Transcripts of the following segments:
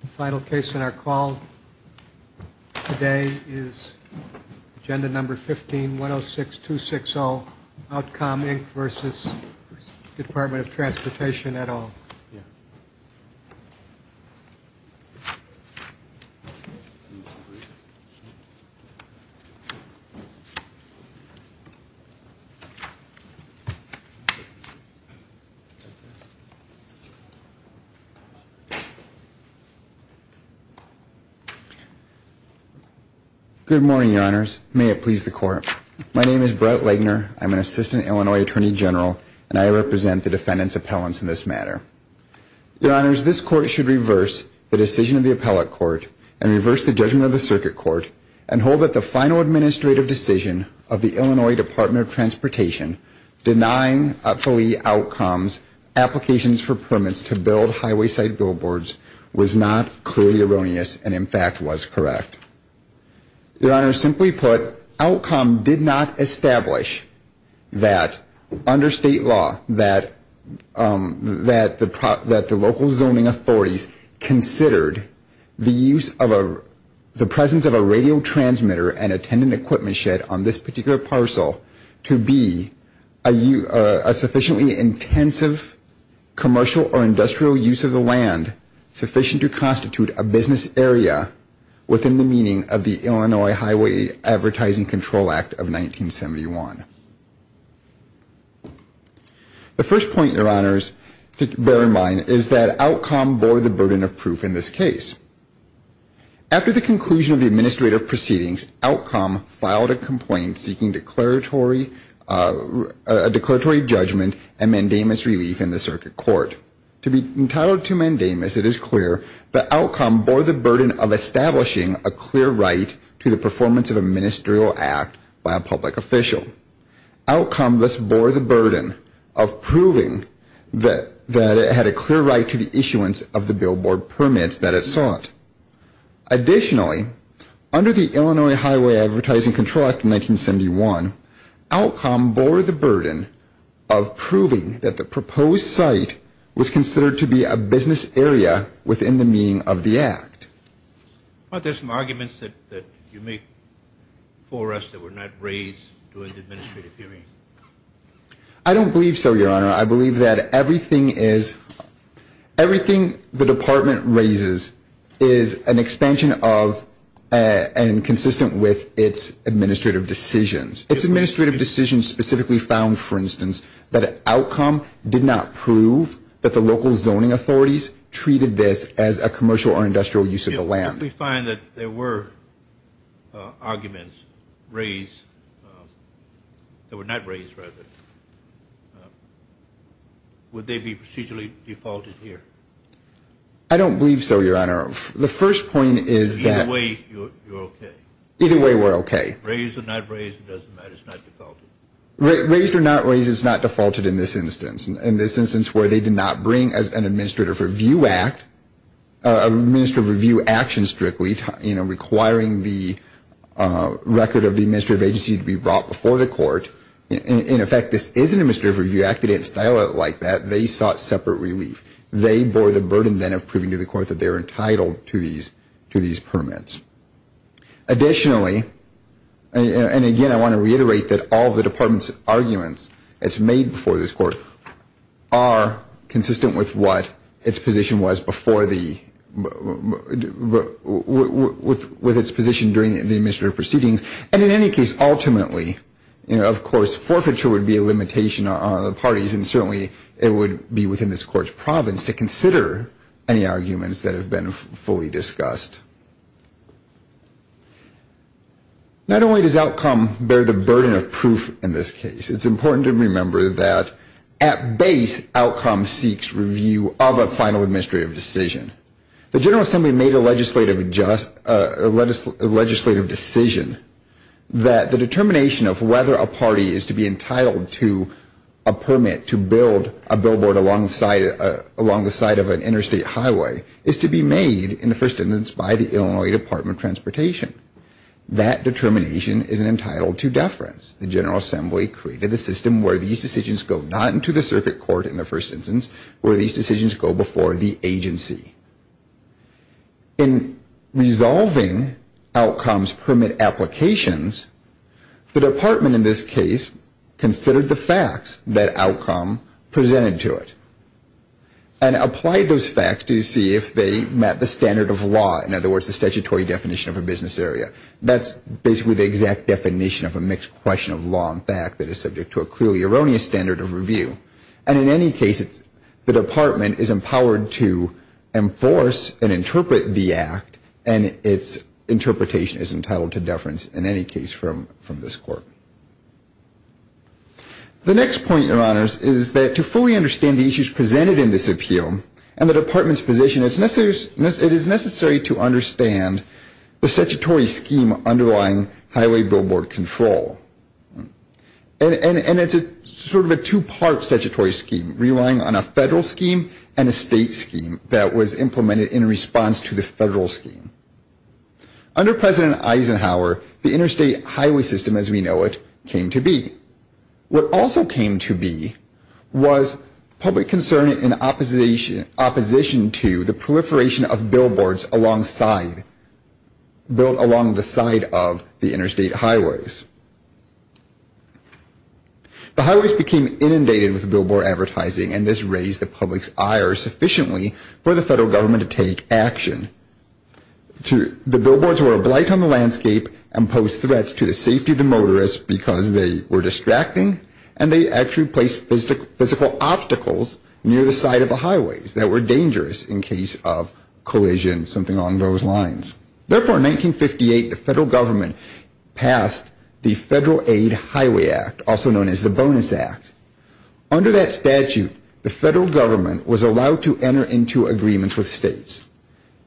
The final case in our call today is agenda number 15 106 260 Outcom Inc. v. Department of Transportation et al. Good morning, Your Honors. May it please the Court. My name is Brett Legner. I am an Assistant Illinois Attorney General, and I represent the defendant's appellants in this matter. Your Honors, this Court should reverse the decision of the Appellate Court and reverse the judgment of the Circuit Court and hold that the final administrative decision of the Illinois Department of Transportation denying up-to-date outcomes, applications for permits to build highway-side billboards was not clearly erroneous and, in fact, was correct. Your Honors, simply put, Outcom did not establish that under State law that the local zoning authorities considered the use of a, the presence of a radio transmitter and attendant equipment shed on this particular parcel to be a sufficiently intensive commercial or industrial use of the land sufficient to constitute a business area within the meaning of the Illinois Highway Advertising Control Act of 1971. The first point, Your Honors, to bear in mind is that Outcom bore the burden of proof in this case. After the conclusion of the administrative proceedings, Outcom filed a complaint seeking declaratory, a declaratory judgment and mandamus relief in the Circuit Court. To be entitled to mandamus, it is clear that Outcom bore the burden of establishing a clear right to the performance of a ministerial act by a public official. Outcom thus bore the burden of proving that it had a clear right to the issuance of the billboard permits that it sought. Additionally, under the Illinois Highway Advertising Control Act of 1971, Outcom bore the burden of proving that the proposed site was considered to be a business area within the meaning of the act. Well, there's some arguments that you make for us that were not raised during the administrative hearing. I don't believe so, Your Honor. I believe that everything is, everything the Department raises is an expansion of and consistent with its administrative decisions. Its administrative decisions specifically found, for instance, that Outcom did not prove that the local zoning authorities treated this as a commercial or industrial use of the land. If we find that there were arguments raised that were not raised, rather, would they be procedurally defaulted here? I don't believe so, Your Honor. The first point is that Either way, you're okay. Either way, we're okay. Raised or not raised, it doesn't matter. It's not defaulted. Raised or not raised, it's not defaulted in this instance. In this instance where they were strictly, you know, requiring the record of the administrative agency to be brought before the court, in effect, this is an administrative review act. They didn't style it like that. They sought separate relief. They bore the burden then of proving to the court that they were entitled to these permits. Additionally, and again, I want to reiterate that all the Department's arguments that's made before this Court are consistent with what its position was before the, before the with its position during the administrative proceedings, and in any case, ultimately, you know, of course, forfeiture would be a limitation on the parties, and certainly it would be within this Court's province to consider any arguments that have been fully discussed. Not only does outcome bear the burden of proof in this case, it's important to remember that at base, outcome seeks review of a final administrative decision. The General Assembly made a legislative decision that the determination of whether a party is to be entitled to a permit to build a billboard along the side of an interstate highway is to be made in the first instance by the Illinois Department of Transportation. That determination is entitled to deference. The General Assembly created a system where these decisions go not into the circuit court in the first instance, where these decisions go before the agency. In resolving outcomes permit applications, the Department in this case considered the facts that outcome presented to it, and applied those facts to see if they met the standard of law, in other words, the statutory definition of a business area. That's basically the exact definition of a mixed question of law and fact that is subject to a clearly erroneous standard of review. And in any case, the Department is empowered to enforce and interpret the act, and its interpretation is entitled to deference in any case from this Court. The next point, Your Honors, is that to fully understand the issues presented in this appeal and the Department's position, it is necessary to understand the statutory scheme underlying highway billboard control. And it's sort of a two-part statutory scheme, relying on a federal scheme and a state scheme that was implemented in response to the federal scheme. Under President Eisenhower, the interstate highway system as we know it came to be. What also came to be was public concern in opposition to the proliferation of billboards along the side of the interstate highways. The highways became inundated with billboard advertising, and this raised the public's ire sufficiently for the federal government to take action. The billboards were a blight on the landscape and posed threats to the safety of the motorists because they were distracting, and they actually placed physical obstacles near the side of the highways that were dangerous in case of collision, something along those lines. Therefore, in 1958, the federal government passed the Federal Aid Highway Act, also known as the Bonus Act. Under that statute, the federal government was allowed to enter into agreements with states.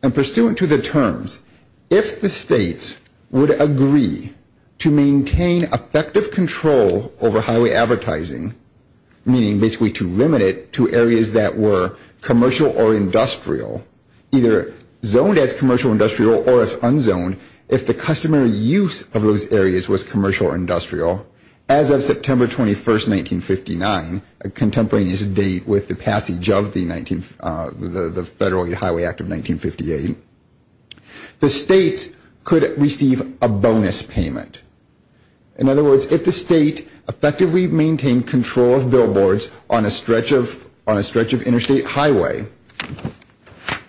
And pursuant to the terms, if the states would agree to maintain effective control over highway advertising, meaning basically to limit it to areas that were commercial or industrial, either zoned as commercial or industrial or if unzoned, if the customary use of those areas was commercial or industrial, as of September 21, 1959, a contemporaneous date with the passage of the Federal Aid Highway Act of 1958, the states could receive a bonus payment. In other words, if the state effectively maintained control of billboards on a stretch of interstate highway,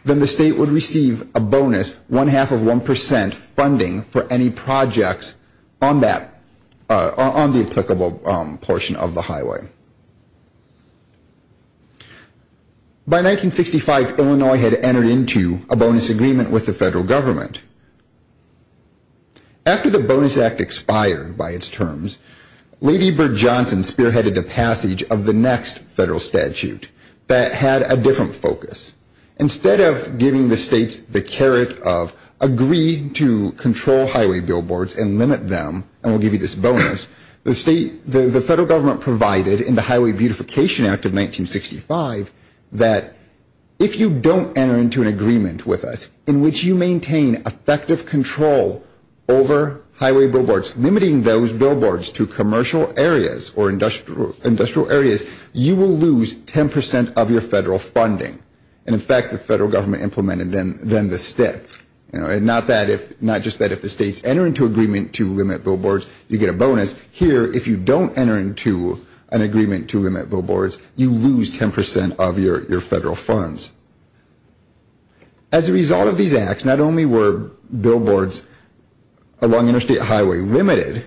then the state would receive a bonus one-half of one percent funding for any projects on the applicable portion of the highway. By 1965, Illinois had entered into a bonus agreement with the federal government. After the Bonus Act expired by its terms, Lady Bird Johnson spearheaded the passage of the next federal statute that had a different focus. Instead of giving the states the caret of agree to control highway billboards and limit them, and we'll give you this bonus, the state, the federal government provided in the Highway Beautification Act of 1965 that if you don't enter into an agreement with us in which you maintain effective control over highway billboards, limiting those billboards to commercial areas or industrial areas, you will lose ten percent of your federal funding. And in fact, the federal government implemented them the stick. Not just that if the states enter into agreement to limit billboards, you get a bonus. Here, if you don't enter into an agreement to limit billboards, you lose ten percent of your federal funds. As a result of these acts, not only were billboards along Interstate Highway limited,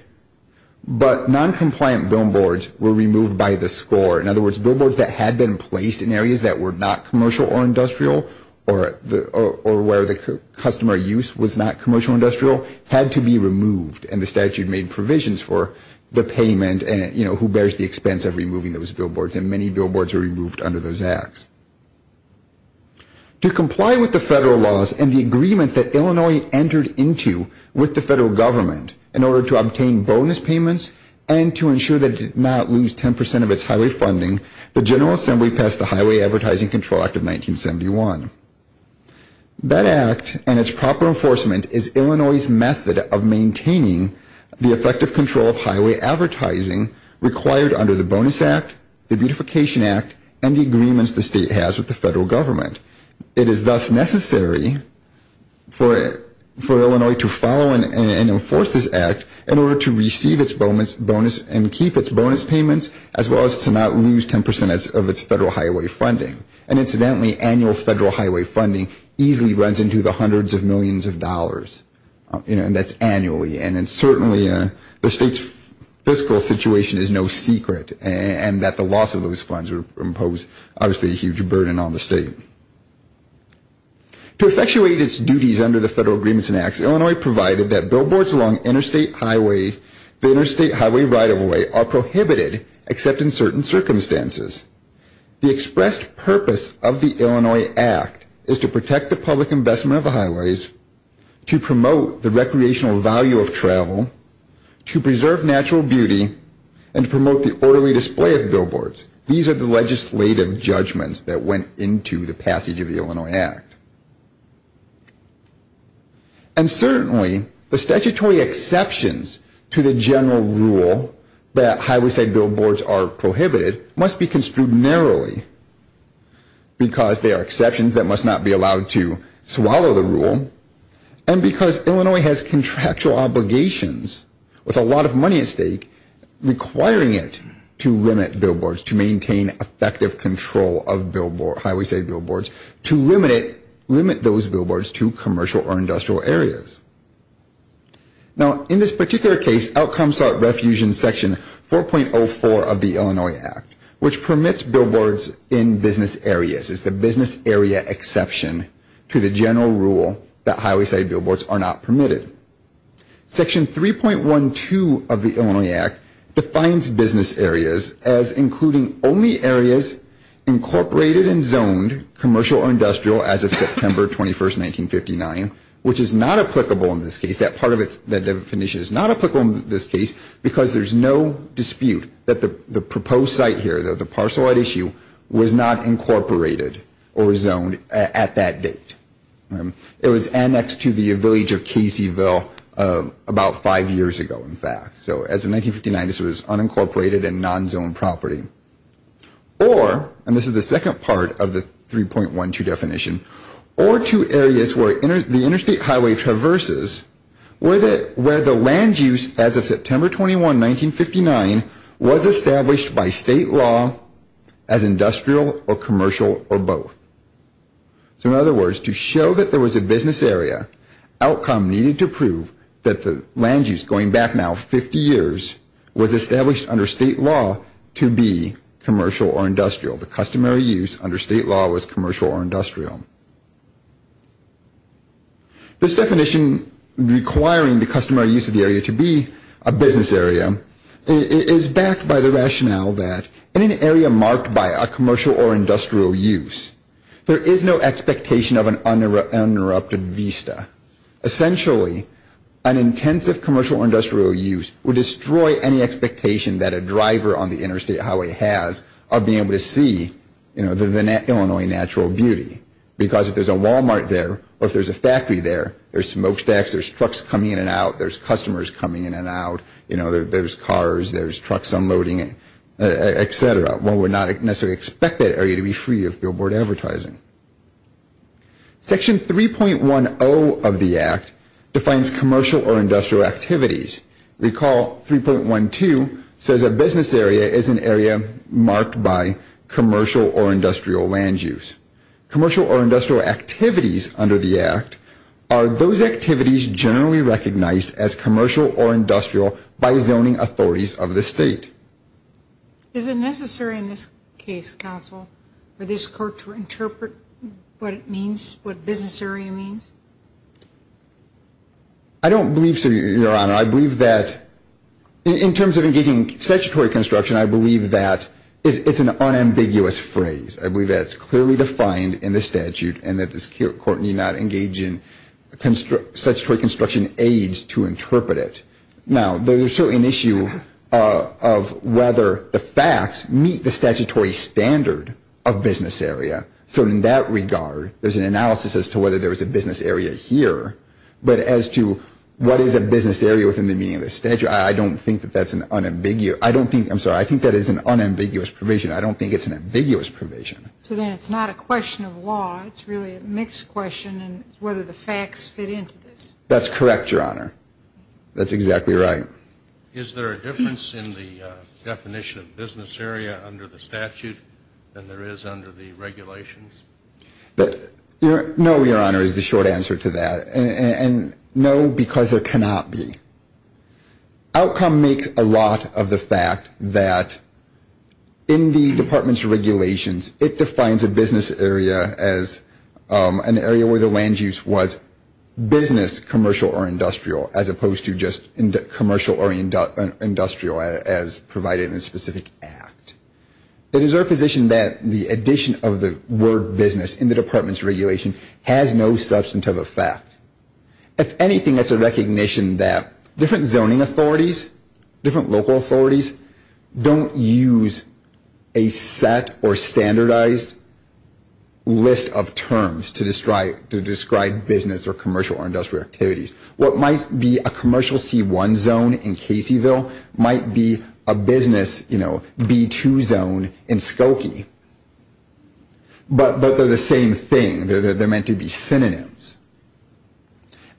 but non-compliant billboards were removed by the score. In other words, billboards that had been placed in areas that were not commercial or industrial or where the customer use was not commercial or industrial had to be removed. And the statute made provisions for the payment and, you know, who bears the expense of removing those billboards and many billboards were removed under those acts. To comply with the federal laws and the agreements that Illinois entered into with the federal government in order to obtain bonus payments and to ensure that it did not lose ten percent of its highway funding, the General Assembly passed the Highway Advertising Control Act of 1971. That act and its proper enforcement is Illinois' method of maintaining the effective control of highway advertising required under the Bonus Act, the Beautification Act, and the agreements the state has with the federal government. It is thus necessary for Illinois to follow and enforce this act in order to receive its bonus and keep its bonus payments as well as to not lose ten percent of its federal highway funding. And incidentally, annual federal highway funding easily runs into the hundreds of millions of dollars, you know, and that's annually. And certainly the state's fiscal situation is no secret and that the loss of those funds impose obviously a huge burden on the state. To effectuate its duties under the federal agreements and acts, Illinois provided that billboards along interstate highway, the interstate highway right-of-way are prohibited except in certain circumstances. The expressed purpose of the Illinois Act is to protect the public investment of the highways, to promote the recreational value of travel, to preserve natural beauty, and to promote the orderly display of billboards. These are the legislative judgments that went into the passage of the Illinois Act. And certainly the statutory exceptions to the general rule that highway side billboards are prohibited must be construed narrowly because they are exceptions that must not be allowed to swallow the rule and because Illinois has contractual obligations with a lot of money at stake requiring it to limit billboards, to maintain effective control of highway side billboards, to limit those billboards to commercial or industrial areas. Now in this particular case, outcomes sought refusion section 4.04 of the Illinois Act, which permits billboards in business areas. It's the business area exception to the general rule that highway side billboards are not permitted. Section 3.12 of the Illinois Act defines business areas as including only areas incorporated and zoned commercial or industrial as of September 21st, 1959, which is not applicable in this case. That part of it, that definition is not applicable in this case because there's no dispute that the proposed site here, the parcel right issue, was not incorporated or zoned at that date. It was annexed to the village of Caseyville about five years ago in fact. So as of 1959, this was unincorporated and non-zoned property. Or, and this is the second part of the 3.12 definition, or to areas where the interstate highway traverses where the land use as of 1959 was established by state law as industrial or commercial or both. So in other words, to show that there was a business area, outcome needed to prove that the land use, going back now 50 years, was established under state law to be commercial or industrial. The customary use under state law was commercial or industrial. This definition requiring the customary use of the area to be a business area is backed by the rationale that in an area marked by a commercial or industrial use, there is no expectation of an uninterrupted vista. Essentially, an intensive commercial or industrial use would destroy any expectation that a driver on the interstate highway has of being able to see, you know, the Illinois natural beauty. Because if there's a Walmart there or if there's a factory there, there's smokestacks, there's customers coming in and out, you know, there's cars, there's trucks unloading, etc. One would not necessarily expect that area to be free of billboard advertising. Section 3.10 of the Act defines commercial or industrial activities. Recall 3.12 says a business area is an area marked by commercial or industrial land use. Commercial or industrial activities under the Act are those activities generally recognized as commercial or industrial by zoning authorities of the state. Is it necessary in this case, counsel, for this court to interpret what it means, what business area means? I don't believe so, Your Honor. I believe that in terms of engaging in statutory construction, I believe that it's an unambiguous phrase. I believe that it's clearly defined in the statute and that this court need not engage in statutory construction aides to interpret it. Now, there's still an issue of whether the facts meet the statutory standard of business area. So in that regard, there's an analysis as to whether there is a business area here. But as to what is a business area within the meaning of the statute, I don't think that that's an unambiguous, I don't think, I'm sure, question. So then it's not a question of law, it's really a mixed question and whether the facts fit into this? That's correct, Your Honor. That's exactly right. Is there a difference in the definition of business area under the statute than there is under the regulations? No, Your Honor, is the short answer to that. And no, because there cannot be. Outcome makes a lot of the fact that in the department's regulations, it defines a business area as an area where the land use was business, commercial, or industrial, as opposed to just commercial or industrial as provided in the specific act. It is our position that the addition of the word business in the department's regulation has no substantive effect. If anything, that's a recognition that different zoning authorities, different local authorities don't use a set or standardized list of terms to describe business or commercial or industrial activities. What might be a commercial C1 zone in Caseyville might be a business, you know, B2 zone in Skokie. But they're the same thing. They're meant to be synonyms.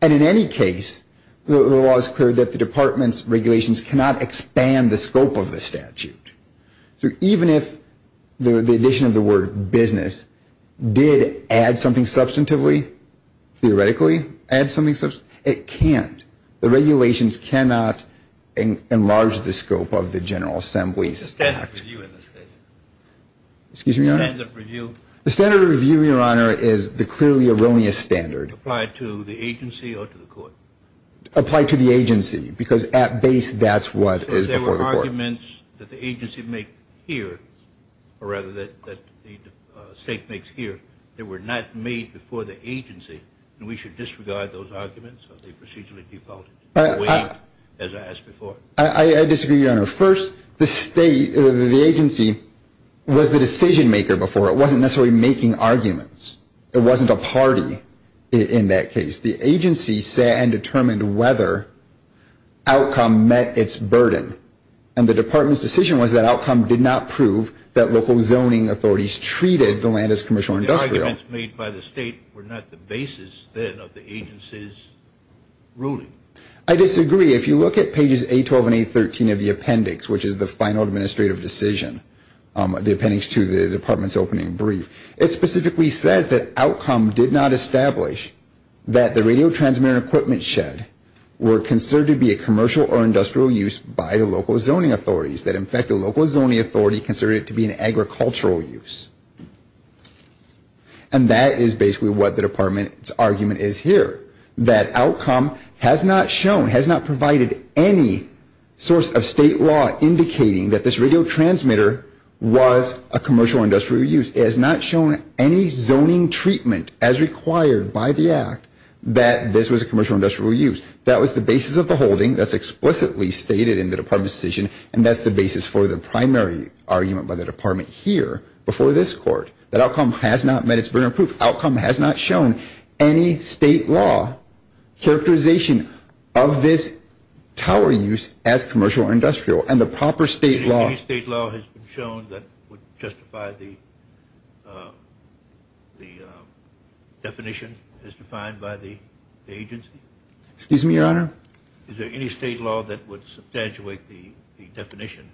And in any case, the law is clear that the department's regulations cannot expand the scope of the statute. So even if the addition of the word business did add something substantively, theoretically add something, it can't. The regulations cannot enlarge the scope of the General Assembly's act. Is there a standard review in this case? Excuse me, Your Honor. The standard review, Your Honor, is the clearly erroneous standard. Applied to the agency or to the court? Applied to the agency. Because at base, that's what is before the court. So there were arguments that the agency make here, or rather that the state makes here, that were not made before the agency, and we should disregard those arguments? Are they procedurally defaulted, waived, as I asked before? I disagree, Your Honor. First, the agency was the decision maker before. It wasn't necessarily making arguments. It wasn't a party in that case. The agency sat and determined whether outcome met its burden. And the department's decision was that outcome did not prove that local zoning authorities treated the land as commercial or industrial. But the arguments made by the state were not the basis, then, of the agency's ruling. I disagree. If you look at pages A12 and A13 of the appendix, which is the final administrative decision, the appendix to the department's opening brief, it specifically says that outcome did not establish that the radio transmitter equipment shed were considered to be a commercial or industrial use by the local zoning authorities, that, in fact, the local zoning authority considered it to be an agricultural use. And that is basically what the department's argument is here, that outcome has not shown, provided any source of state law indicating that this radio transmitter was a commercial or industrial use. It has not shown any zoning treatment as required by the Act that this was a commercial or industrial use. That was the basis of the holding that's explicitly stated in the department's decision, and that's the basis for the primary argument by the department here before this Court. That outcome has not met its burden of proof. Outcome has not shown any state law characterization of this tower use as commercial or industrial, and the proper state law... Any state law has been shown that would justify the definition as defined by the agency? Excuse me, Your Honor? Is there any state law that would substantiate the definition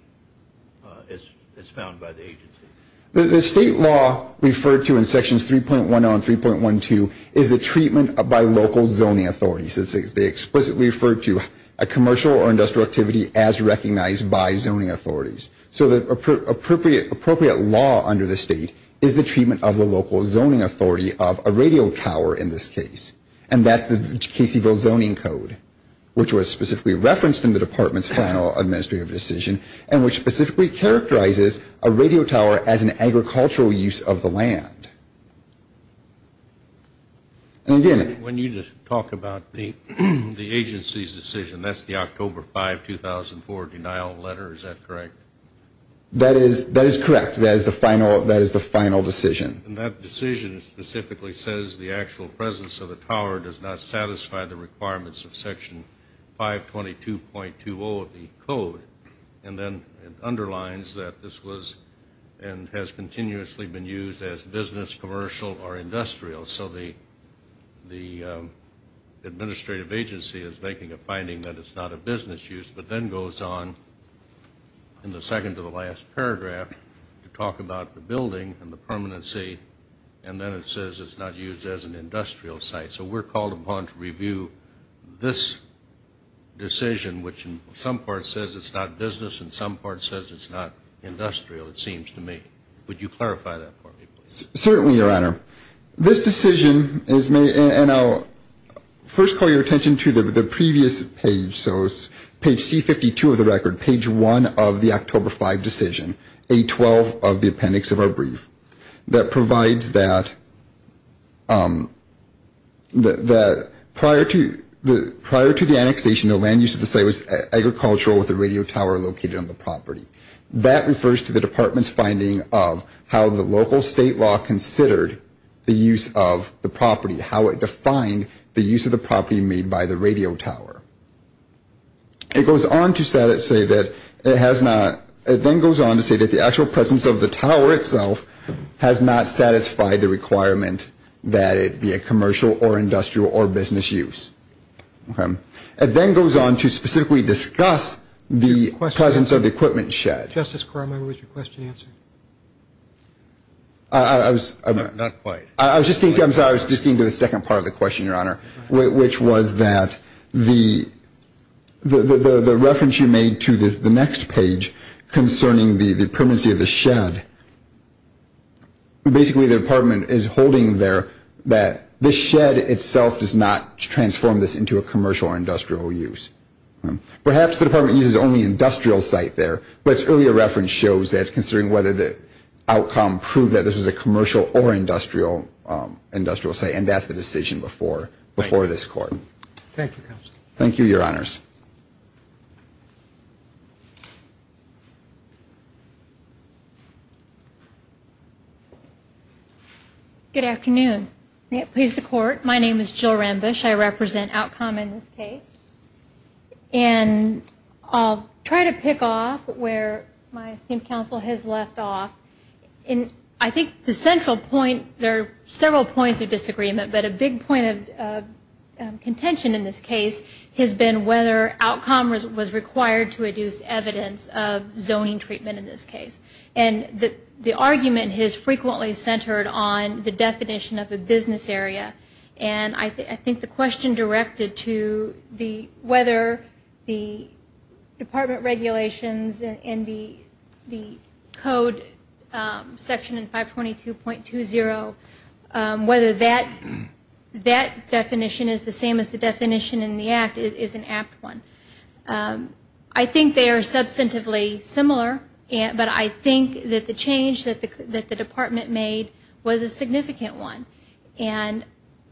as found by the agency? The state law referred to in sections 3.10 and 3.12 is the treatment by local zoning authorities. They explicitly refer to a commercial or industrial activity as recognized by zoning authorities. So the appropriate law under the state is the treatment of the local zoning authority of a radio tower in this case, and that's the Caseyville Zoning Code, which was specifically referenced in the department's final administrative decision, and which specifically characterizes a radio tower as an agricultural use of the land. And again... When you just talk about the agency's decision, that's the October 5, 2004 denial letter, is that correct? That is correct. That is the final decision. And that decision specifically says the actual presence of the tower does not satisfy the requirements of section 522.20 of the code, and then it underlines that this was and has continuously been used as business, commercial, or industrial. So the administrative agency is making a finding that it's not a business use, but then goes on in the second to the last paragraph to talk about the building and the permanency, and then it says it's not used as an industrial site. So we're called upon to review this decision, which in some parts says it's not business, and some parts says it's not industrial, it seems to me. Would you clarify that for me, please? Certainly, Your Honor. This decision is made, and I'll first call your attention to the previous page, so it's page C52 of the record, page 1 of the October 5 decision, A12 of the appendix of our brief, that provides that prior to the annexation, the land use of the radio tower located on the property. That refers to the department's finding of how the local state law considered the use of the property, how it defined the use of the property made by the radio tower. It goes on to say that it has not, it then goes on to say that the actual presence of the tower itself has not satisfied the requirement that it be a commercial or industrial or business use. Okay. It then goes on to specifically discuss the presence of the equipment shed. Justice Cormier, was your question answered? I was just getting to the second part of the question, Your Honor, which was that the reference you made to the next page concerning the permanency of the shed, basically the department is holding there that the shed itself does not transform this into a commercial or industrial use. Perhaps the department uses only industrial site there, but its earlier reference shows that it's considering whether the outcome proved that this was a commercial or industrial site, and that's the decision before this Court. Thank you, Counselor. Thank you, Your Honors. Good afternoon. May it please the Court, my name is Jill Rambush, I represent Outcom in this case. And I'll try to pick off where my esteemed counsel has left off. I think the central point, there are several points of disagreement, but a big point of contention in this case has been whether Outcom was required to reduce evidence of zoning treatment in this case. And the argument is frequently centered on the definition of a business area. And I think the question directed to whether the department regulations and the code section 522.20, whether that definition is the same as the definition in the Act is an apt one. I think they are substantively similar, but I think that the change that the department made was a significant one. And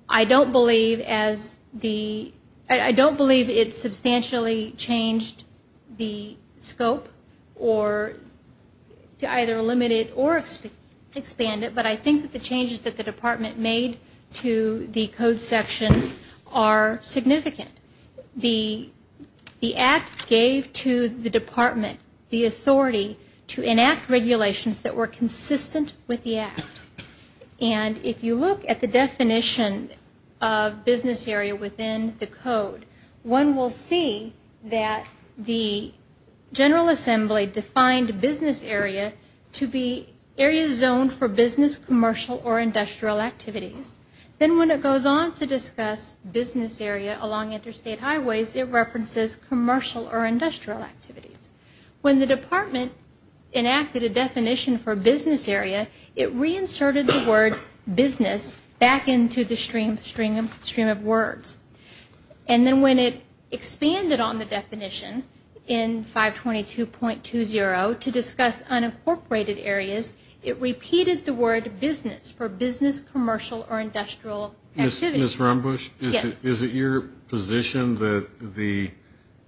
I don't believe as the, I don't believe it substantially changed the scope or to either limit it or expand it, but I think that the changes that the department made to the code section are significant. The Act gave to the department the authority to enact regulations that were consistent with the Act. And if you look at the definition of business area within the code, one will see that the General Assembly defined business area to be areas zoned for business, commercial, or industrial activities. Then when it goes on to discuss business area along interstate highways, it references commercial or industrial activities. When the department enacted a definition for business area, it went back into the stream of words. And then when it expanded on the definition in 522.20 to discuss unincorporated areas, it repeated the word business for business, commercial, or industrial activities. Ms. Rumbush, is it your position that the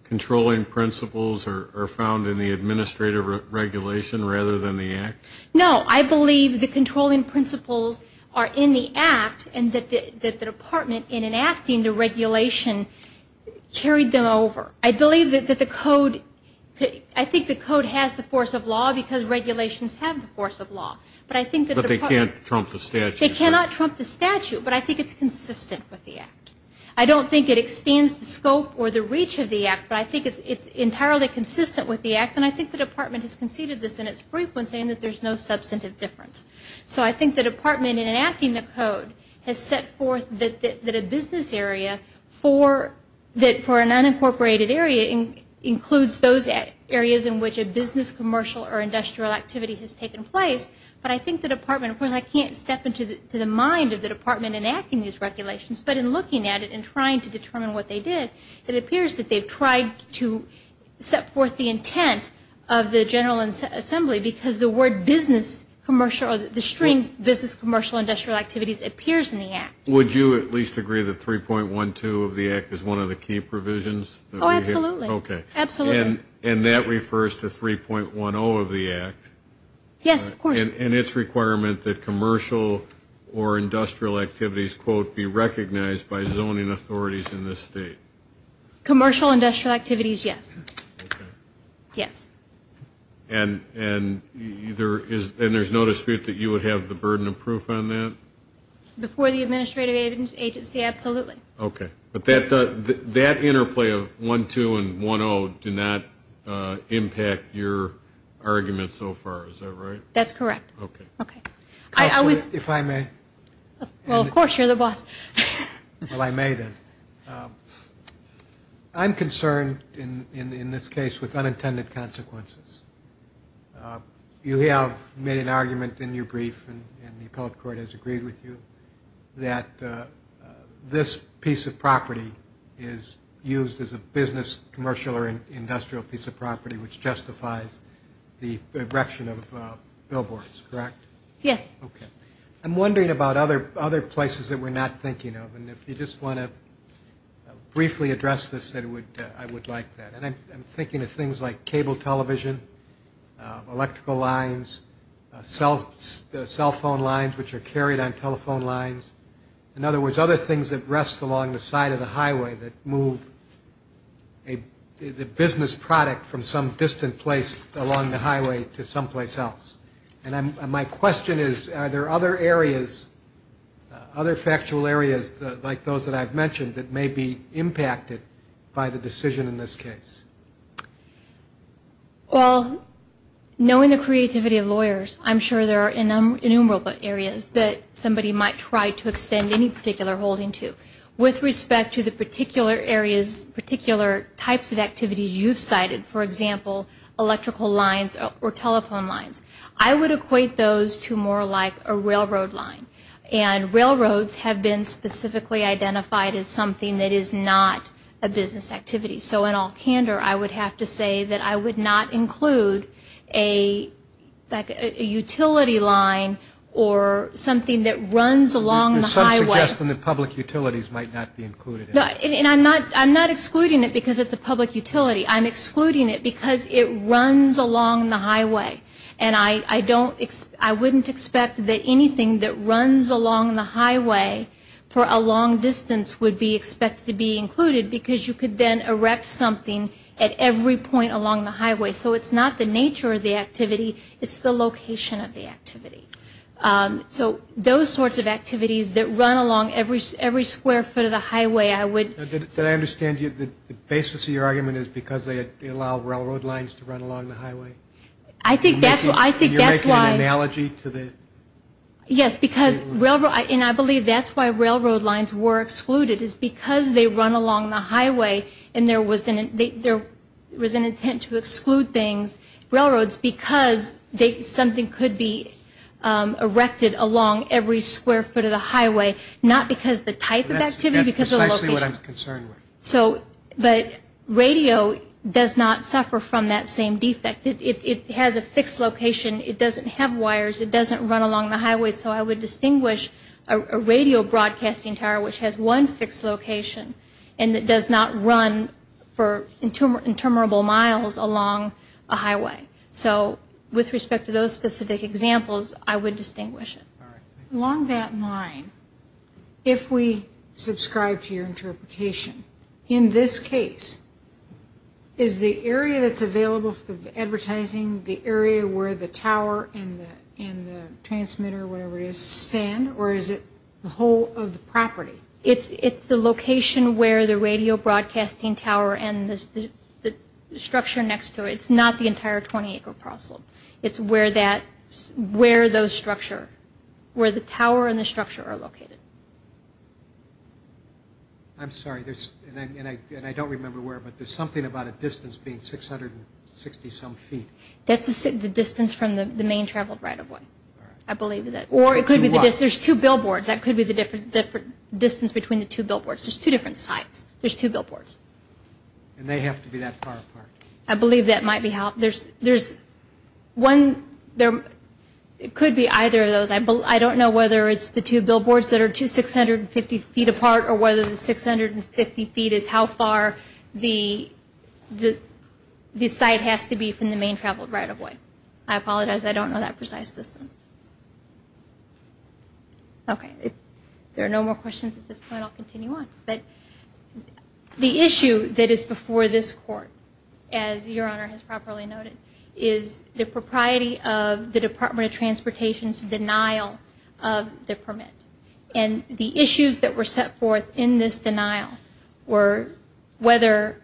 controlling principles are found in the administrative regulation rather than the Act? No, I believe the controlling principles are in the Act and that the department, in enacting the regulation, carried them over. I believe that the code, I think the code has the force of law because regulations have the force of law. But I think that the department But they can't trump the statute. They cannot trump the statute, but I think it's consistent with the Act. I don't think it extends the scope or the reach of the Act, but I think it's entirely consistent with the Act. And I think the department has conceded this in its brief when saying that there's no substantive difference. So I think the department, in enacting the code, has set forth that a business area for an unincorporated area includes those areas in which a business, commercial, or industrial activity has taken place. But I think the department, of course, I can't step into the mind of the department in enacting these regulations, but in looking at it and trying to determine what they did, it appears that they've tried to set forth the intent of the General Assembly because the word business, commercial, or the string business, commercial, industrial activities appears in the Act. Would you at least agree that 3.12 of the Act is one of the key provisions? Oh, absolutely. Okay. And that refers to 3.10 of the Act? Yes, of course. And its requirement that commercial or industrial activities, quote, be recognized by zoning authorities in this state? Commercial industrial activities, yes. Okay. Yes. And there's no dispute that you would have the burden of proof on that? Before the administrative agency, absolutely. Okay. But that interplay of 1.2 and 1.0 did not impact your argument so far, is that right? That's correct. Okay. Okay. Counselor, if I may? Well, of course, you're the boss. Well, I may then. I'm concerned, in this case, with unintended consequences. You have made an argument in your brief, and the appellate court has agreed with you, that this piece of property is used as a business, commercial, or industrial piece of property which justifies the erection of billboards, correct? Yes. I'm wondering about other places that we're not thinking of. And if you just want to briefly address this, I would like that. I'm thinking of things like cable television, electrical lines, cell phone lines which are carried on telephone lines. In other words, other things that rest along the side of the highway that move the business product from some distant place along the highway to someplace else. And my question is, are there other areas, other factual areas like those that I've mentioned that may be impacted by the decision in this case? Well, knowing the creativity of lawyers, I'm sure there are innumerable areas that somebody might try to extend any particular holding to. With respect to the particular areas, particular types of activities you've cited, for example, electrical lines or telephone lines, I would equate those to more like a railroad line. And railroads have been specifically identified as something that is not a business activity. So in all candor, I would have to say that I would not include a utility line or something that runs along the highway. There's some suggestion that public utilities might not be included. And I'm not excluding it because it's a public utility. I'm excluding it because it runs along the highway. And I don't, I wouldn't expect that anything that runs along the highway for a long distance would be expected to be included because you could then erect something at every point along the highway. So it's not the nature of the activity. It's the location of the activity. So those sorts of activities that run along every square foot of the highway, I would I understand the basis of your argument is because they allow railroad lines to run along the highway? I think that's why. And you're making an analogy to the. Yes, because railroad, and I believe that's why railroad lines were excluded, is because they run along the highway and there was an intent to exclude things, railroads, because something could be erected along every square foot of the highway, not because the type of activity, because of the location. That's precisely what I'm concerned with. But radio does not suffer from that same defect. It has a fixed location. It doesn't have wires. It doesn't run along the highway. So I would distinguish a radio broadcasting tower, which has one fixed location, and it does not run for interminable miles along a highway. So with respect to those specific examples, I would distinguish it. Along that line, if we subscribe to your interpretation, in this case, is the area that's available for the advertising the area where the tower and the transmitter, whatever it is, stand, or is it the whole of the property? It's the location where the radio broadcasting tower and the structure next to it. It's not the entire 20-acre parcel. It's where those structure, where the tower and the structure are located. I'm sorry. And I don't remember where, but there's something about a distance being 660-some feet. That's the distance from the main traveled right-of-way, I believe. Or it could be the distance. There's two billboards. That could be the distance between the two billboards. There's two different sites. There's two billboards. And they have to be that far apart. I believe that might be how. There's one. It could be either of those. I don't know whether it's the two billboards that are two 650 feet apart or whether the 650 feet is how far the site has to be from the main traveled right-of-way. I apologize. I don't know that precise distance. Okay. If there are no more questions at this point, I'll continue on. The issue that is before this Court, as Your Honor has properly noted, is the propriety of the Department of Transportation's denial of the permit. And the issues that were set forth in this denial were whether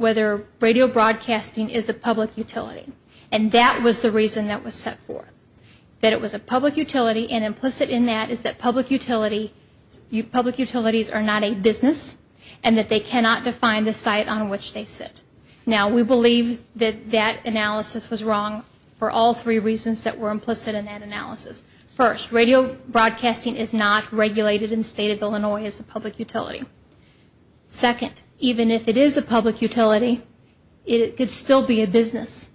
radio broadcasting is a public utility. And that was the reason that was set forth, that it was a public utility. And implicit in that is that public utilities are not a business and that they cannot define the site on which they sit. Now, we believe that that analysis was wrong for all three reasons that were implicit in that analysis. First, radio broadcasting is not regulated in the State of Illinois as a public utility. Second, even if it is a public utility, it could still be a business.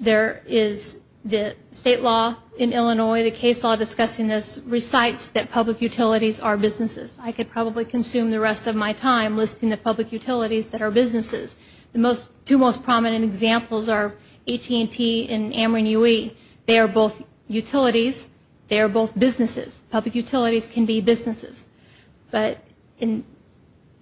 There is the State law in Illinois, the case law discussing this, recites that public utilities are businesses. I could probably consume the rest of my time listing the public utilities that are businesses. The two most prominent examples are AT&T and Ameren UE. They are both utilities. They are both businesses. Public utilities can be businesses. So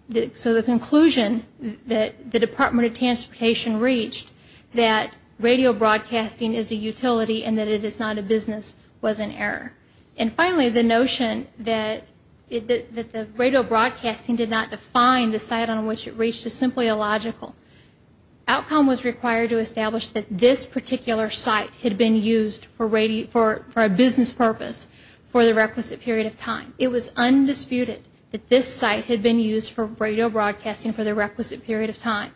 the conclusion that the Department of Transportation reached that radio broadcasting is a utility and that it is not a business was an error. And finally, the notion that the radio broadcasting did not define the site on which it reached is simply illogical. Outcome was required to establish that this particular site had been used for a business purpose for the requisite period of time. It was undisputed that this site had been used for radio broadcasting for the requisite period of time.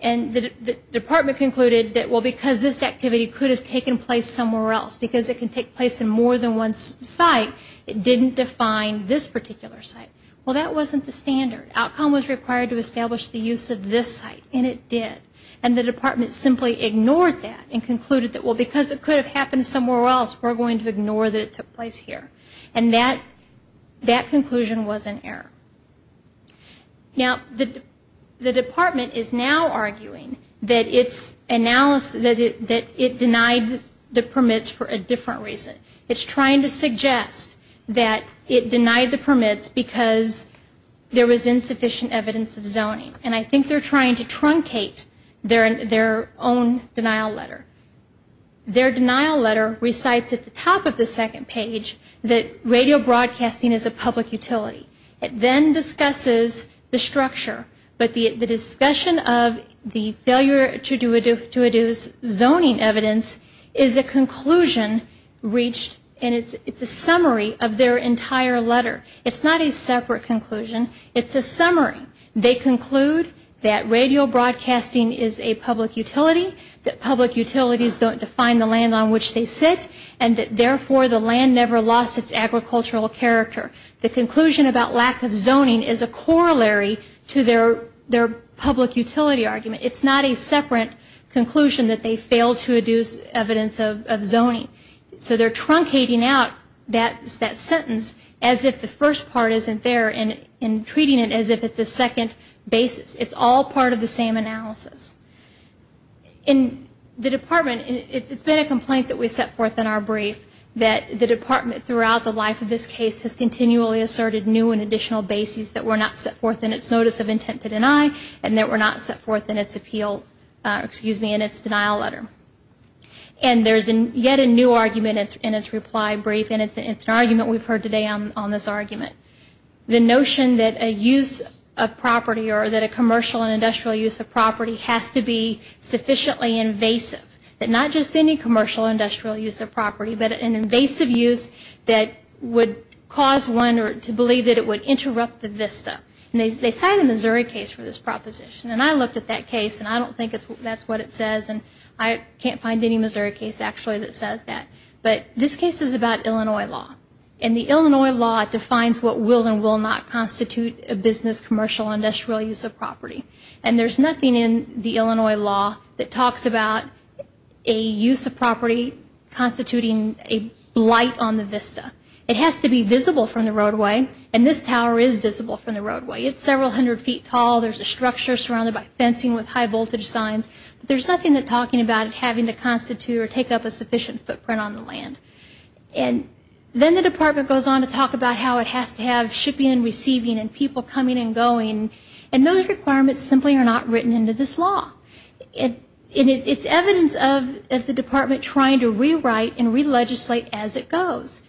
And the department concluded that, well, because this activity could have taken place somewhere else, because it can take place in more than one site, it didn't define this particular site. Well, that wasn't the standard. Outcome was required to establish the use of this site, and it did. And the department simply ignored that and concluded that, well, because it could have happened somewhere else, we're going to ignore that it took place here. And that conclusion was an error. Now, the department is now arguing that it denied the permits for a different reason. It's trying to suggest that it denied the permits because there was insufficient evidence of zoning. And I think they're trying to truncate their own denial letter. Their denial letter recites at the top of the second page that radio broadcasting is a public utility. It then discusses the structure. But the discussion of the failure to deduce zoning evidence is a conclusion reached, and it's a summary of their entire letter. It's not a separate conclusion. It's a summary. They conclude that radio broadcasting is a public utility, that public utilities don't define the land on which they sit, and that therefore the land never lost its agricultural character. The conclusion about lack of zoning is a corollary to their public utility argument. It's not a separate conclusion that they failed to deduce evidence of zoning. So they're truncating out that sentence as if the first part isn't there and treating it as if it's a second basis. It's all part of the same analysis. In the department, it's been a complaint that we set forth in our brief that the department throughout the life of this case has continually asserted new and additional bases that were not set forth in its notice of intent to deny and that were not set forth in its appeal, excuse me, in its denial letter. And there's yet a new argument in its reply brief, and it's an argument we've heard today on this argument. The notion that a use of property or that a commercial and industrial use of property has to be sufficiently invasive, that not just any commercial or industrial use of property, but an invasive use that would cause one to believe that it would interrupt the VISTA. And they signed a Missouri case for this proposition. And I looked at that case, and I don't think that's what it says, and I can't find any Missouri case actually that says that. But this case is about Illinois law. And the Illinois law defines what will and will not constitute a business, commercial, industrial use of property. And there's nothing in the Illinois law that talks about a use of property constituting a blight on the VISTA. It has to be visible from the roadway, and this tower is visible from the roadway. It's several hundred feet tall. There's a structure surrounded by fencing with high-voltage signs. But there's nothing that's talking about it having to constitute or take up a sufficient footprint on the land. And then the department goes on to talk about how it has to have shipping and receiving and people coming and going. And those requirements simply are not written into this law. And it's evidence of the department trying to rewrite and re-legislate as it goes.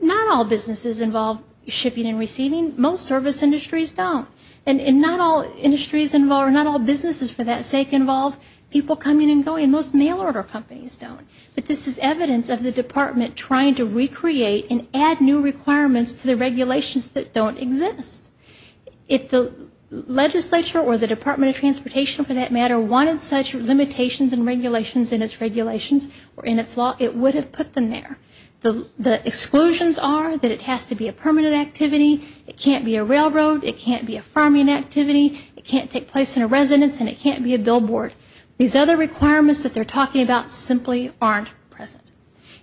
Not all businesses involve shipping and receiving. Most service industries don't. And not all industries involve, or not all businesses for that sake involve, people coming and going. Most mail order companies don't. But this is evidence of the department trying to recreate and add new requirements to the regulations that don't exist. If the legislature or the Department of Transportation, for that matter, wanted such limitations and regulations in its regulations or in its law, it would have put them there. The exclusions are that it has to be a permanent activity, it can't be a railroad, it can't be a farming activity, it can't take place in a residence, and it can't be a billboard. These other requirements that they're talking about simply aren't present.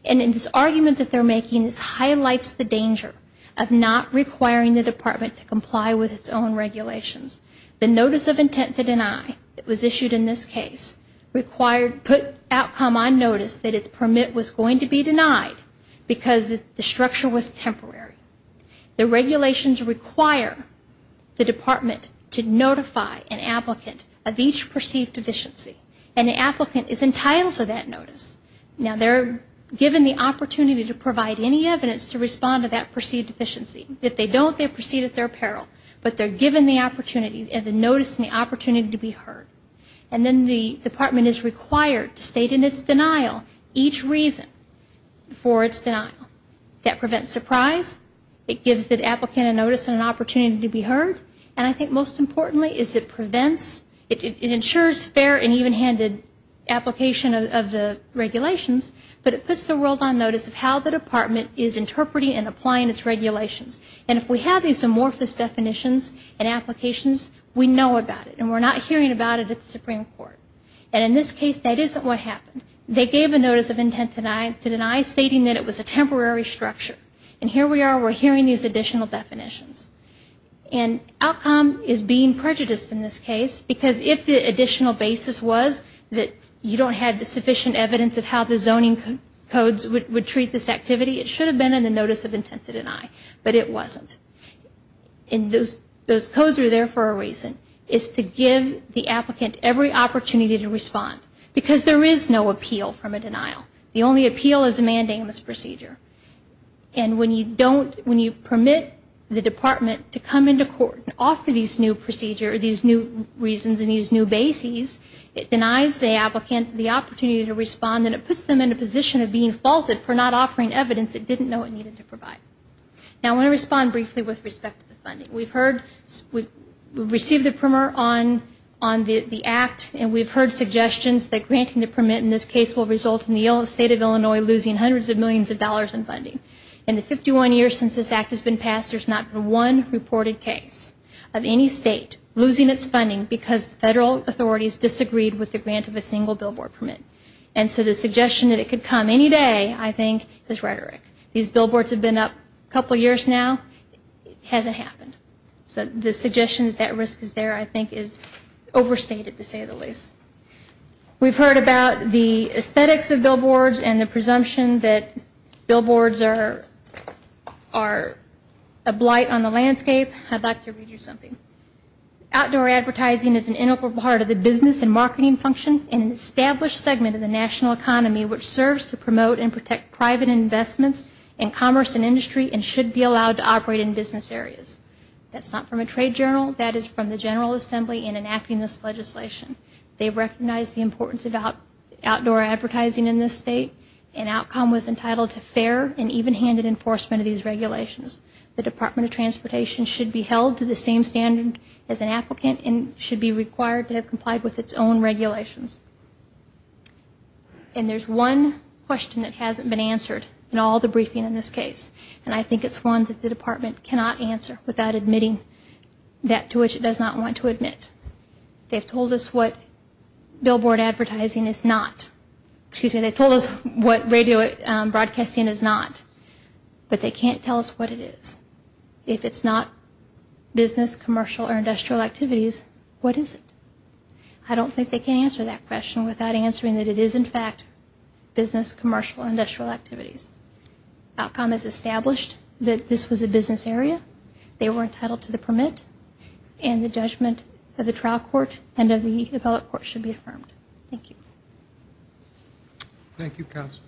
And in this argument that they're making, this highlights the danger of not requiring the department to comply with its own regulations. The notice of intent to deny that was issued in this case required, put outcome on notice that its permit was going to be denied because the structure was temporary. The regulations require the department to notify an applicant of each perceived deficiency, and the applicant is entitled to that notice. Now, they're given the opportunity to provide any evidence to respond to that perceived deficiency. If they don't, they proceed at their peril. But they're given the opportunity and the notice and the opportunity to be heard. And then the department is required to state in its denial each reason for its denial. That prevents surprise. It gives the applicant a notice and an opportunity to be heard. And I think most importantly is it prevents, it ensures fair and even-handed application of the regulations, but it puts the world on notice of how the department is interpreting and applying its regulations. And if we have these amorphous definitions and applications, we know about it, and we're not hearing about it at the Supreme Court. And in this case, that isn't what happened. They gave a notice of intent to deny stating that it was a temporary structure. And here we are, we're hearing these additional definitions. And outcome is being prejudiced in this case, because if the additional basis was that you don't have the sufficient evidence of how the zoning codes would treat this activity, it should have been in the notice of intent to deny. But it wasn't. And those codes are there for a reason. It's to give the applicant every opportunity to respond, because there is no appeal from a denial. The only appeal is a mandamus procedure. And when you permit the department to come into court and offer these new procedures, these new reasons, and these new bases, it denies the applicant the opportunity to respond, and it puts them in a position of being faulted for not offering evidence it didn't know it needed to provide. Now, I want to respond briefly with respect to the funding. We've received a primer on the Act, and we've heard suggestions that granting the permit in this case will result in the state of Illinois losing hundreds of millions of dollars in funding. In the 51 years since this Act has been passed, there's not been one reported case of any state losing its funding because federal authorities disagreed with the grant of a single billboard permit. And so the suggestion that it could come any day, I think, is rhetoric. These billboards have been up a couple years now. It hasn't happened. So the suggestion that that risk is there, I think, is overstated, to say the least. We've heard about the aesthetics of billboards and the presumption that billboards are a blight on the landscape. I'd like to read you something. Outdoor advertising is an integral part of the business and marketing function and an established segment of the national economy, which serves to promote and protect private investments in commerce and industry and should be allowed to operate in business areas. That's not from a trade journal. That is from the General Assembly in enacting this legislation. They recognize the importance of outdoor advertising in this state and Outcom was entitled to fair and even-handed enforcement of these regulations. The Department of Transportation should be held to the same standard as an applicant and should be required to have complied with its own regulations. And there's one question that hasn't been answered in all the briefing in this case, and I think it's one that the department cannot answer without admitting that to which it does not want to admit. They've told us what billboard advertising is not. Excuse me, they've told us what radio broadcasting is not, but they can't tell us what it is. If it's not business, commercial, or industrial activities, what is it? I don't think they can answer that question without answering that it is, in fact, business, commercial, or industrial activities. Outcom has established that this was a business area. They were entitled to the permit, and the judgment of the trial court and of the appellate court should be affirmed. Thank you. Thank you, Counsel.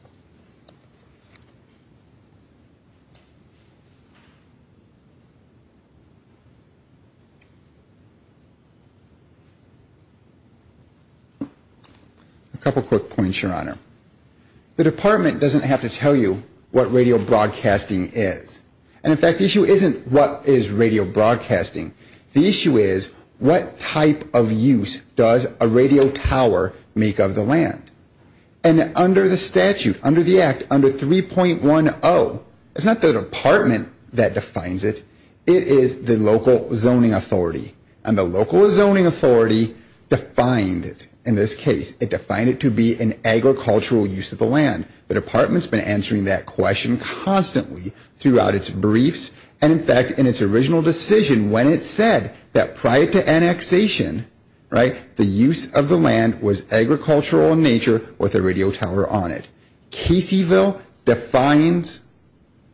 A couple quick points, Your Honor. The department doesn't have to tell you what radio broadcasting is. And, in fact, the issue isn't what is radio broadcasting. The issue is what type of use does a radio tower make of the land. And under the statute, under the Act, under 3.10, it's not the department that defines it. It is the local zoning authority. And the local zoning authority defined it in this case. It defined it to be an agricultural use of the land. The department's been answering that question constantly throughout its briefs, and, in fact, in its original decision when it said that prior to annexation, right, the use of the land was agricultural in nature with a radio tower on it. Caseyville defines,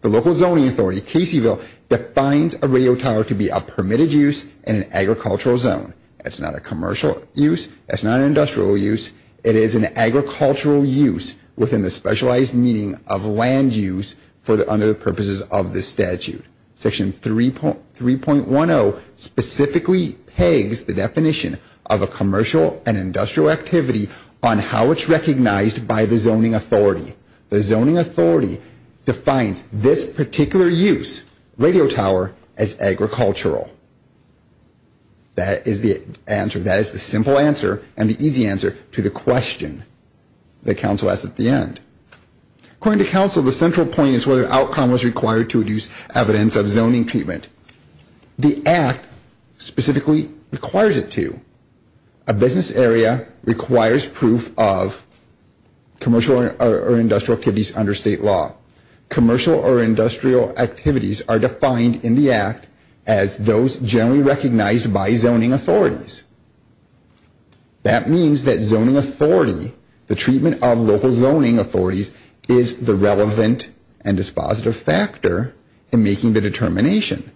the local zoning authority, Caseyville, defines a radio tower to be a permitted use in an agricultural zone. It's not a commercial use. It's not an industrial use. It is an agricultural use within the specialized meaning of land use under the purposes of this statute. Section 3.10 specifically pegs the definition of a commercial and industrial activity on how it's recognized by the zoning authority. The zoning authority defines this particular use, radio tower, as agricultural. That is the answer. That is the simple answer and the easy answer to the question that counsel asked at the end. According to counsel, the central point is whether an outcome was required to reduce evidence of zoning treatment. The Act specifically requires it to. A business area requires proof of commercial or industrial activities under state law. Commercial or industrial activities are defined in the Act as those generally recognized by zoning authorities. That means that zoning authority, the treatment of local zoning authorities, is the relevant and dispositive factor in making the determination.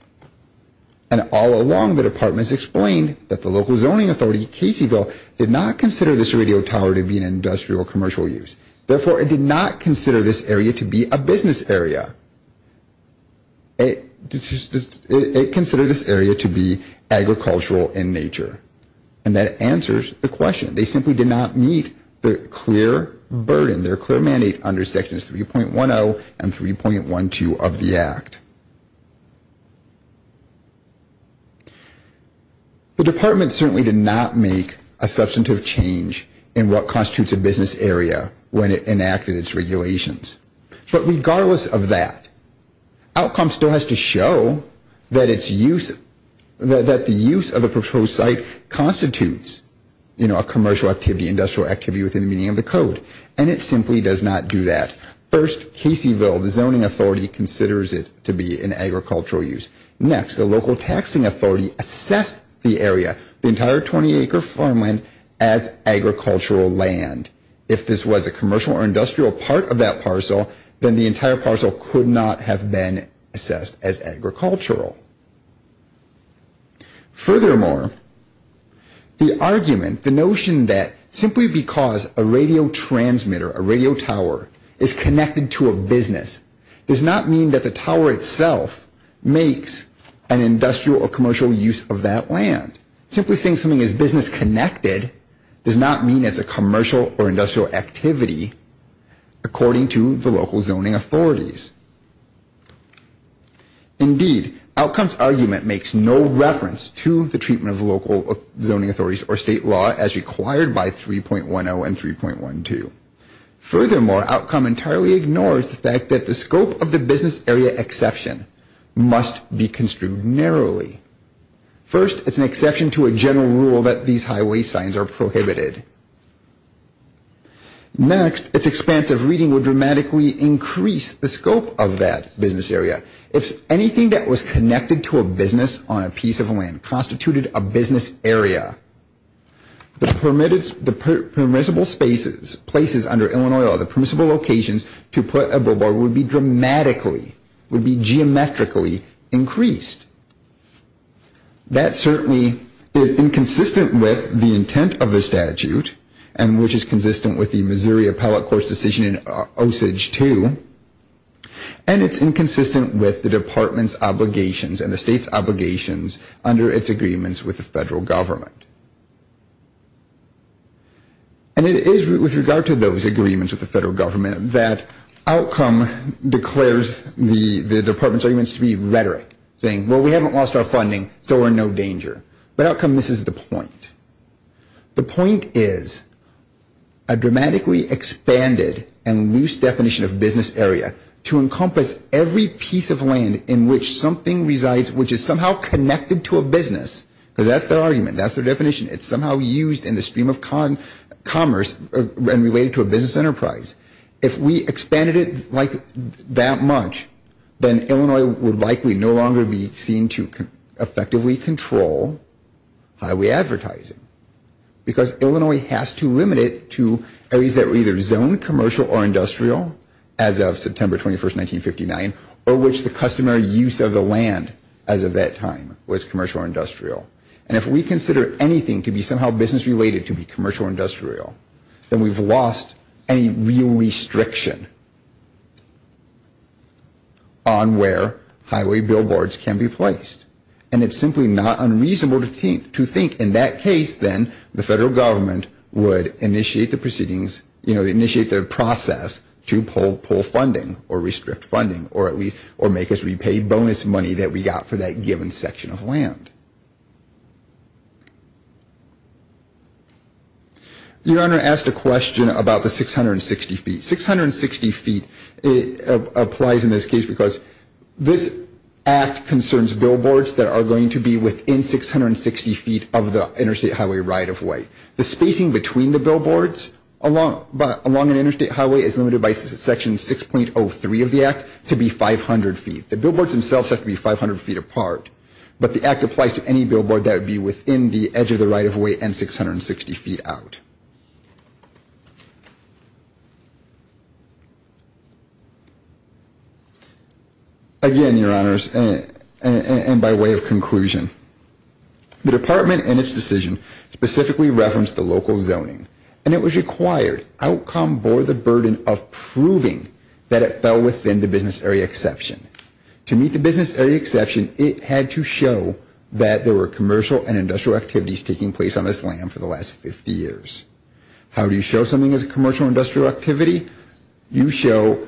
And all along the department's explained that the local zoning authority, Caseyville, did not consider this radio tower to be an industrial or commercial use. Therefore, it did not consider this area to be a business area. It considered this area to be agricultural in nature. And that answers the question. They simply did not meet the clear burden, their clear mandate, under Sections 3.10 and 3.12 of the Act. The department certainly did not make a substantive change in what constitutes a business area when it enacted its regulations. But regardless of that, outcome still has to show that the use of the proposed site constitutes, you know, a commercial activity, industrial activity within the meaning of the code. And it simply does not do that. First, Caseyville, the zoning authority, considers it to be a business area. It does not consider it to be an agricultural use. Next, the local taxing authority assessed the area, the entire 20-acre farmland, as agricultural land. If this was a commercial or industrial part of that parcel, then the entire parcel could not have been assessed as agricultural. Furthermore, the argument, the notion that simply because a radio transmitter, a radio tower, is connected to a business, does not mean that the tower itself makes an industrial or commercial use of that land. Simply saying something is business connected does not mean it's a commercial or industrial activity according to the local zoning authorities. Indeed, outcomes argument makes no reference to the treatment of local zoning authorities or state law as required by 3.10 and 3.12. Furthermore, outcome entirely ignores the fact that the scope of the business area exception must be construed narrowly. First, it's an exception to a general rule that these highway signs are prohibited. Next, its expansive reading would dramatically increase the scope of that business area. If anything that was connected to a business on a piece of land constituted a business area, the permissible spaces, places under Illinois law, the permissible locations to put a billboard would be dramatically, would be geometrically increased. That certainly is inconsistent with the intent of the statute and which is consistent with the Missouri Appellate Court's decision in Osage 2, and it's inconsistent with the department's obligations and the state's obligations under its agreements with the federal government. And it is with regard to those agreements with the federal government that outcome declares the department's arguments to be rhetoric, saying, well, we haven't lost our funding, so we're in no danger. But outcome misses the point. The point is a dramatically expanded and loose definition of business area to encompass every piece of land in which something resides, which is somehow connected to a business, because that's their argument. That's their definition. It's somehow used in the stream of commerce and related to a business enterprise. If we expanded it like that much, then Illinois would likely no longer be seen to effectively control highway advertising, because Illinois has to limit it to areas that were either zoned commercial or industrial as of September 21, 1959, or which the customary use of the land as of that time was commercial or industrial. And if we consider anything to be somehow business-related to be commercial or industrial, then we've lost any real restriction on where highway billboards can be placed. And it's simply not unreasonable to think in that case then the federal government would initiate the proceedings, you know, initiate the process to pull funding or restrict funding or make us repay bonus money that we got for that given section of land. Your Honor, I asked a question about the 660 feet. Six hundred and sixty feet applies in this case because this act concerns billboards that are going to be within 660 feet of the interstate highway right-of-way. The spacing between the billboards along an interstate highway is limited by Section 6.03 of the act to be 500 feet. The billboards themselves have to be 500 feet apart. But the act applies to any billboard that would be within the edge of the right-of-way and 660 feet out. Again, Your Honors, and by way of conclusion, the Department in its decision specifically referenced the local zoning. And it was required. Outcome bore the burden of proving that it fell within the business area exception. To meet the business area exception, it had to show that there were commercial and industrial activities taking place on this land for the last 50 years. How do you show something is a commercial or industrial activity? You show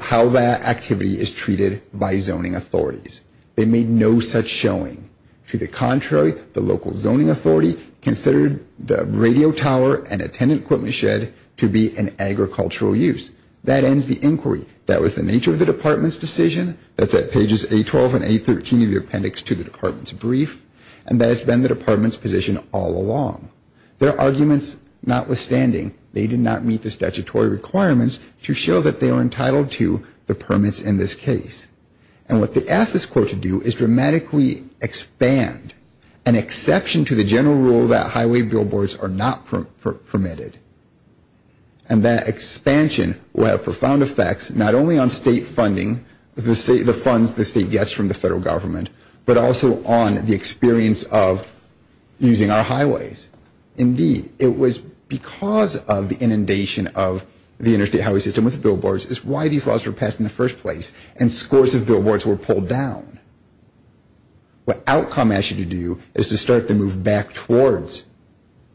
how that activity is treated by zoning authorities. They made no such showing. To the contrary, the local zoning authority considered the radio tower and attendant equipment shed to be an agricultural use. That ends the inquiry. That was the nature of the Department's decision. That's at pages A-12 and A-13 of the appendix to the Department's brief. And that has been the Department's position all along. Their arguments notwithstanding, they did not meet the statutory requirements to show that they are entitled to the permits in this case. And what they asked this court to do is dramatically expand an exception to the general rule that highway billboards are not permitted. And that expansion will have profound effects not only on state funding, the funds the state gets from the federal government, but also on the experience of using our highways. Indeed, it was because of the inundation of the interstate highway system with billboards is why these laws were passed in the first place and scores of billboards were pulled down. What outcome asked you to do is to start to move back towards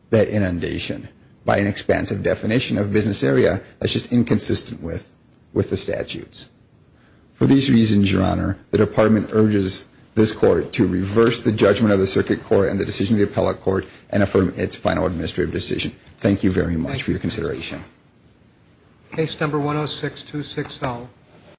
that inundation by an expansive definition of business area that's just inconsistent with the statutes. For these reasons, Your Honor, the Department urges this court to reverse the judgment of the circuit court and the decision of the appellate court and affirm its final administrative decision. Thank you very much for your consideration. Case number 106-260.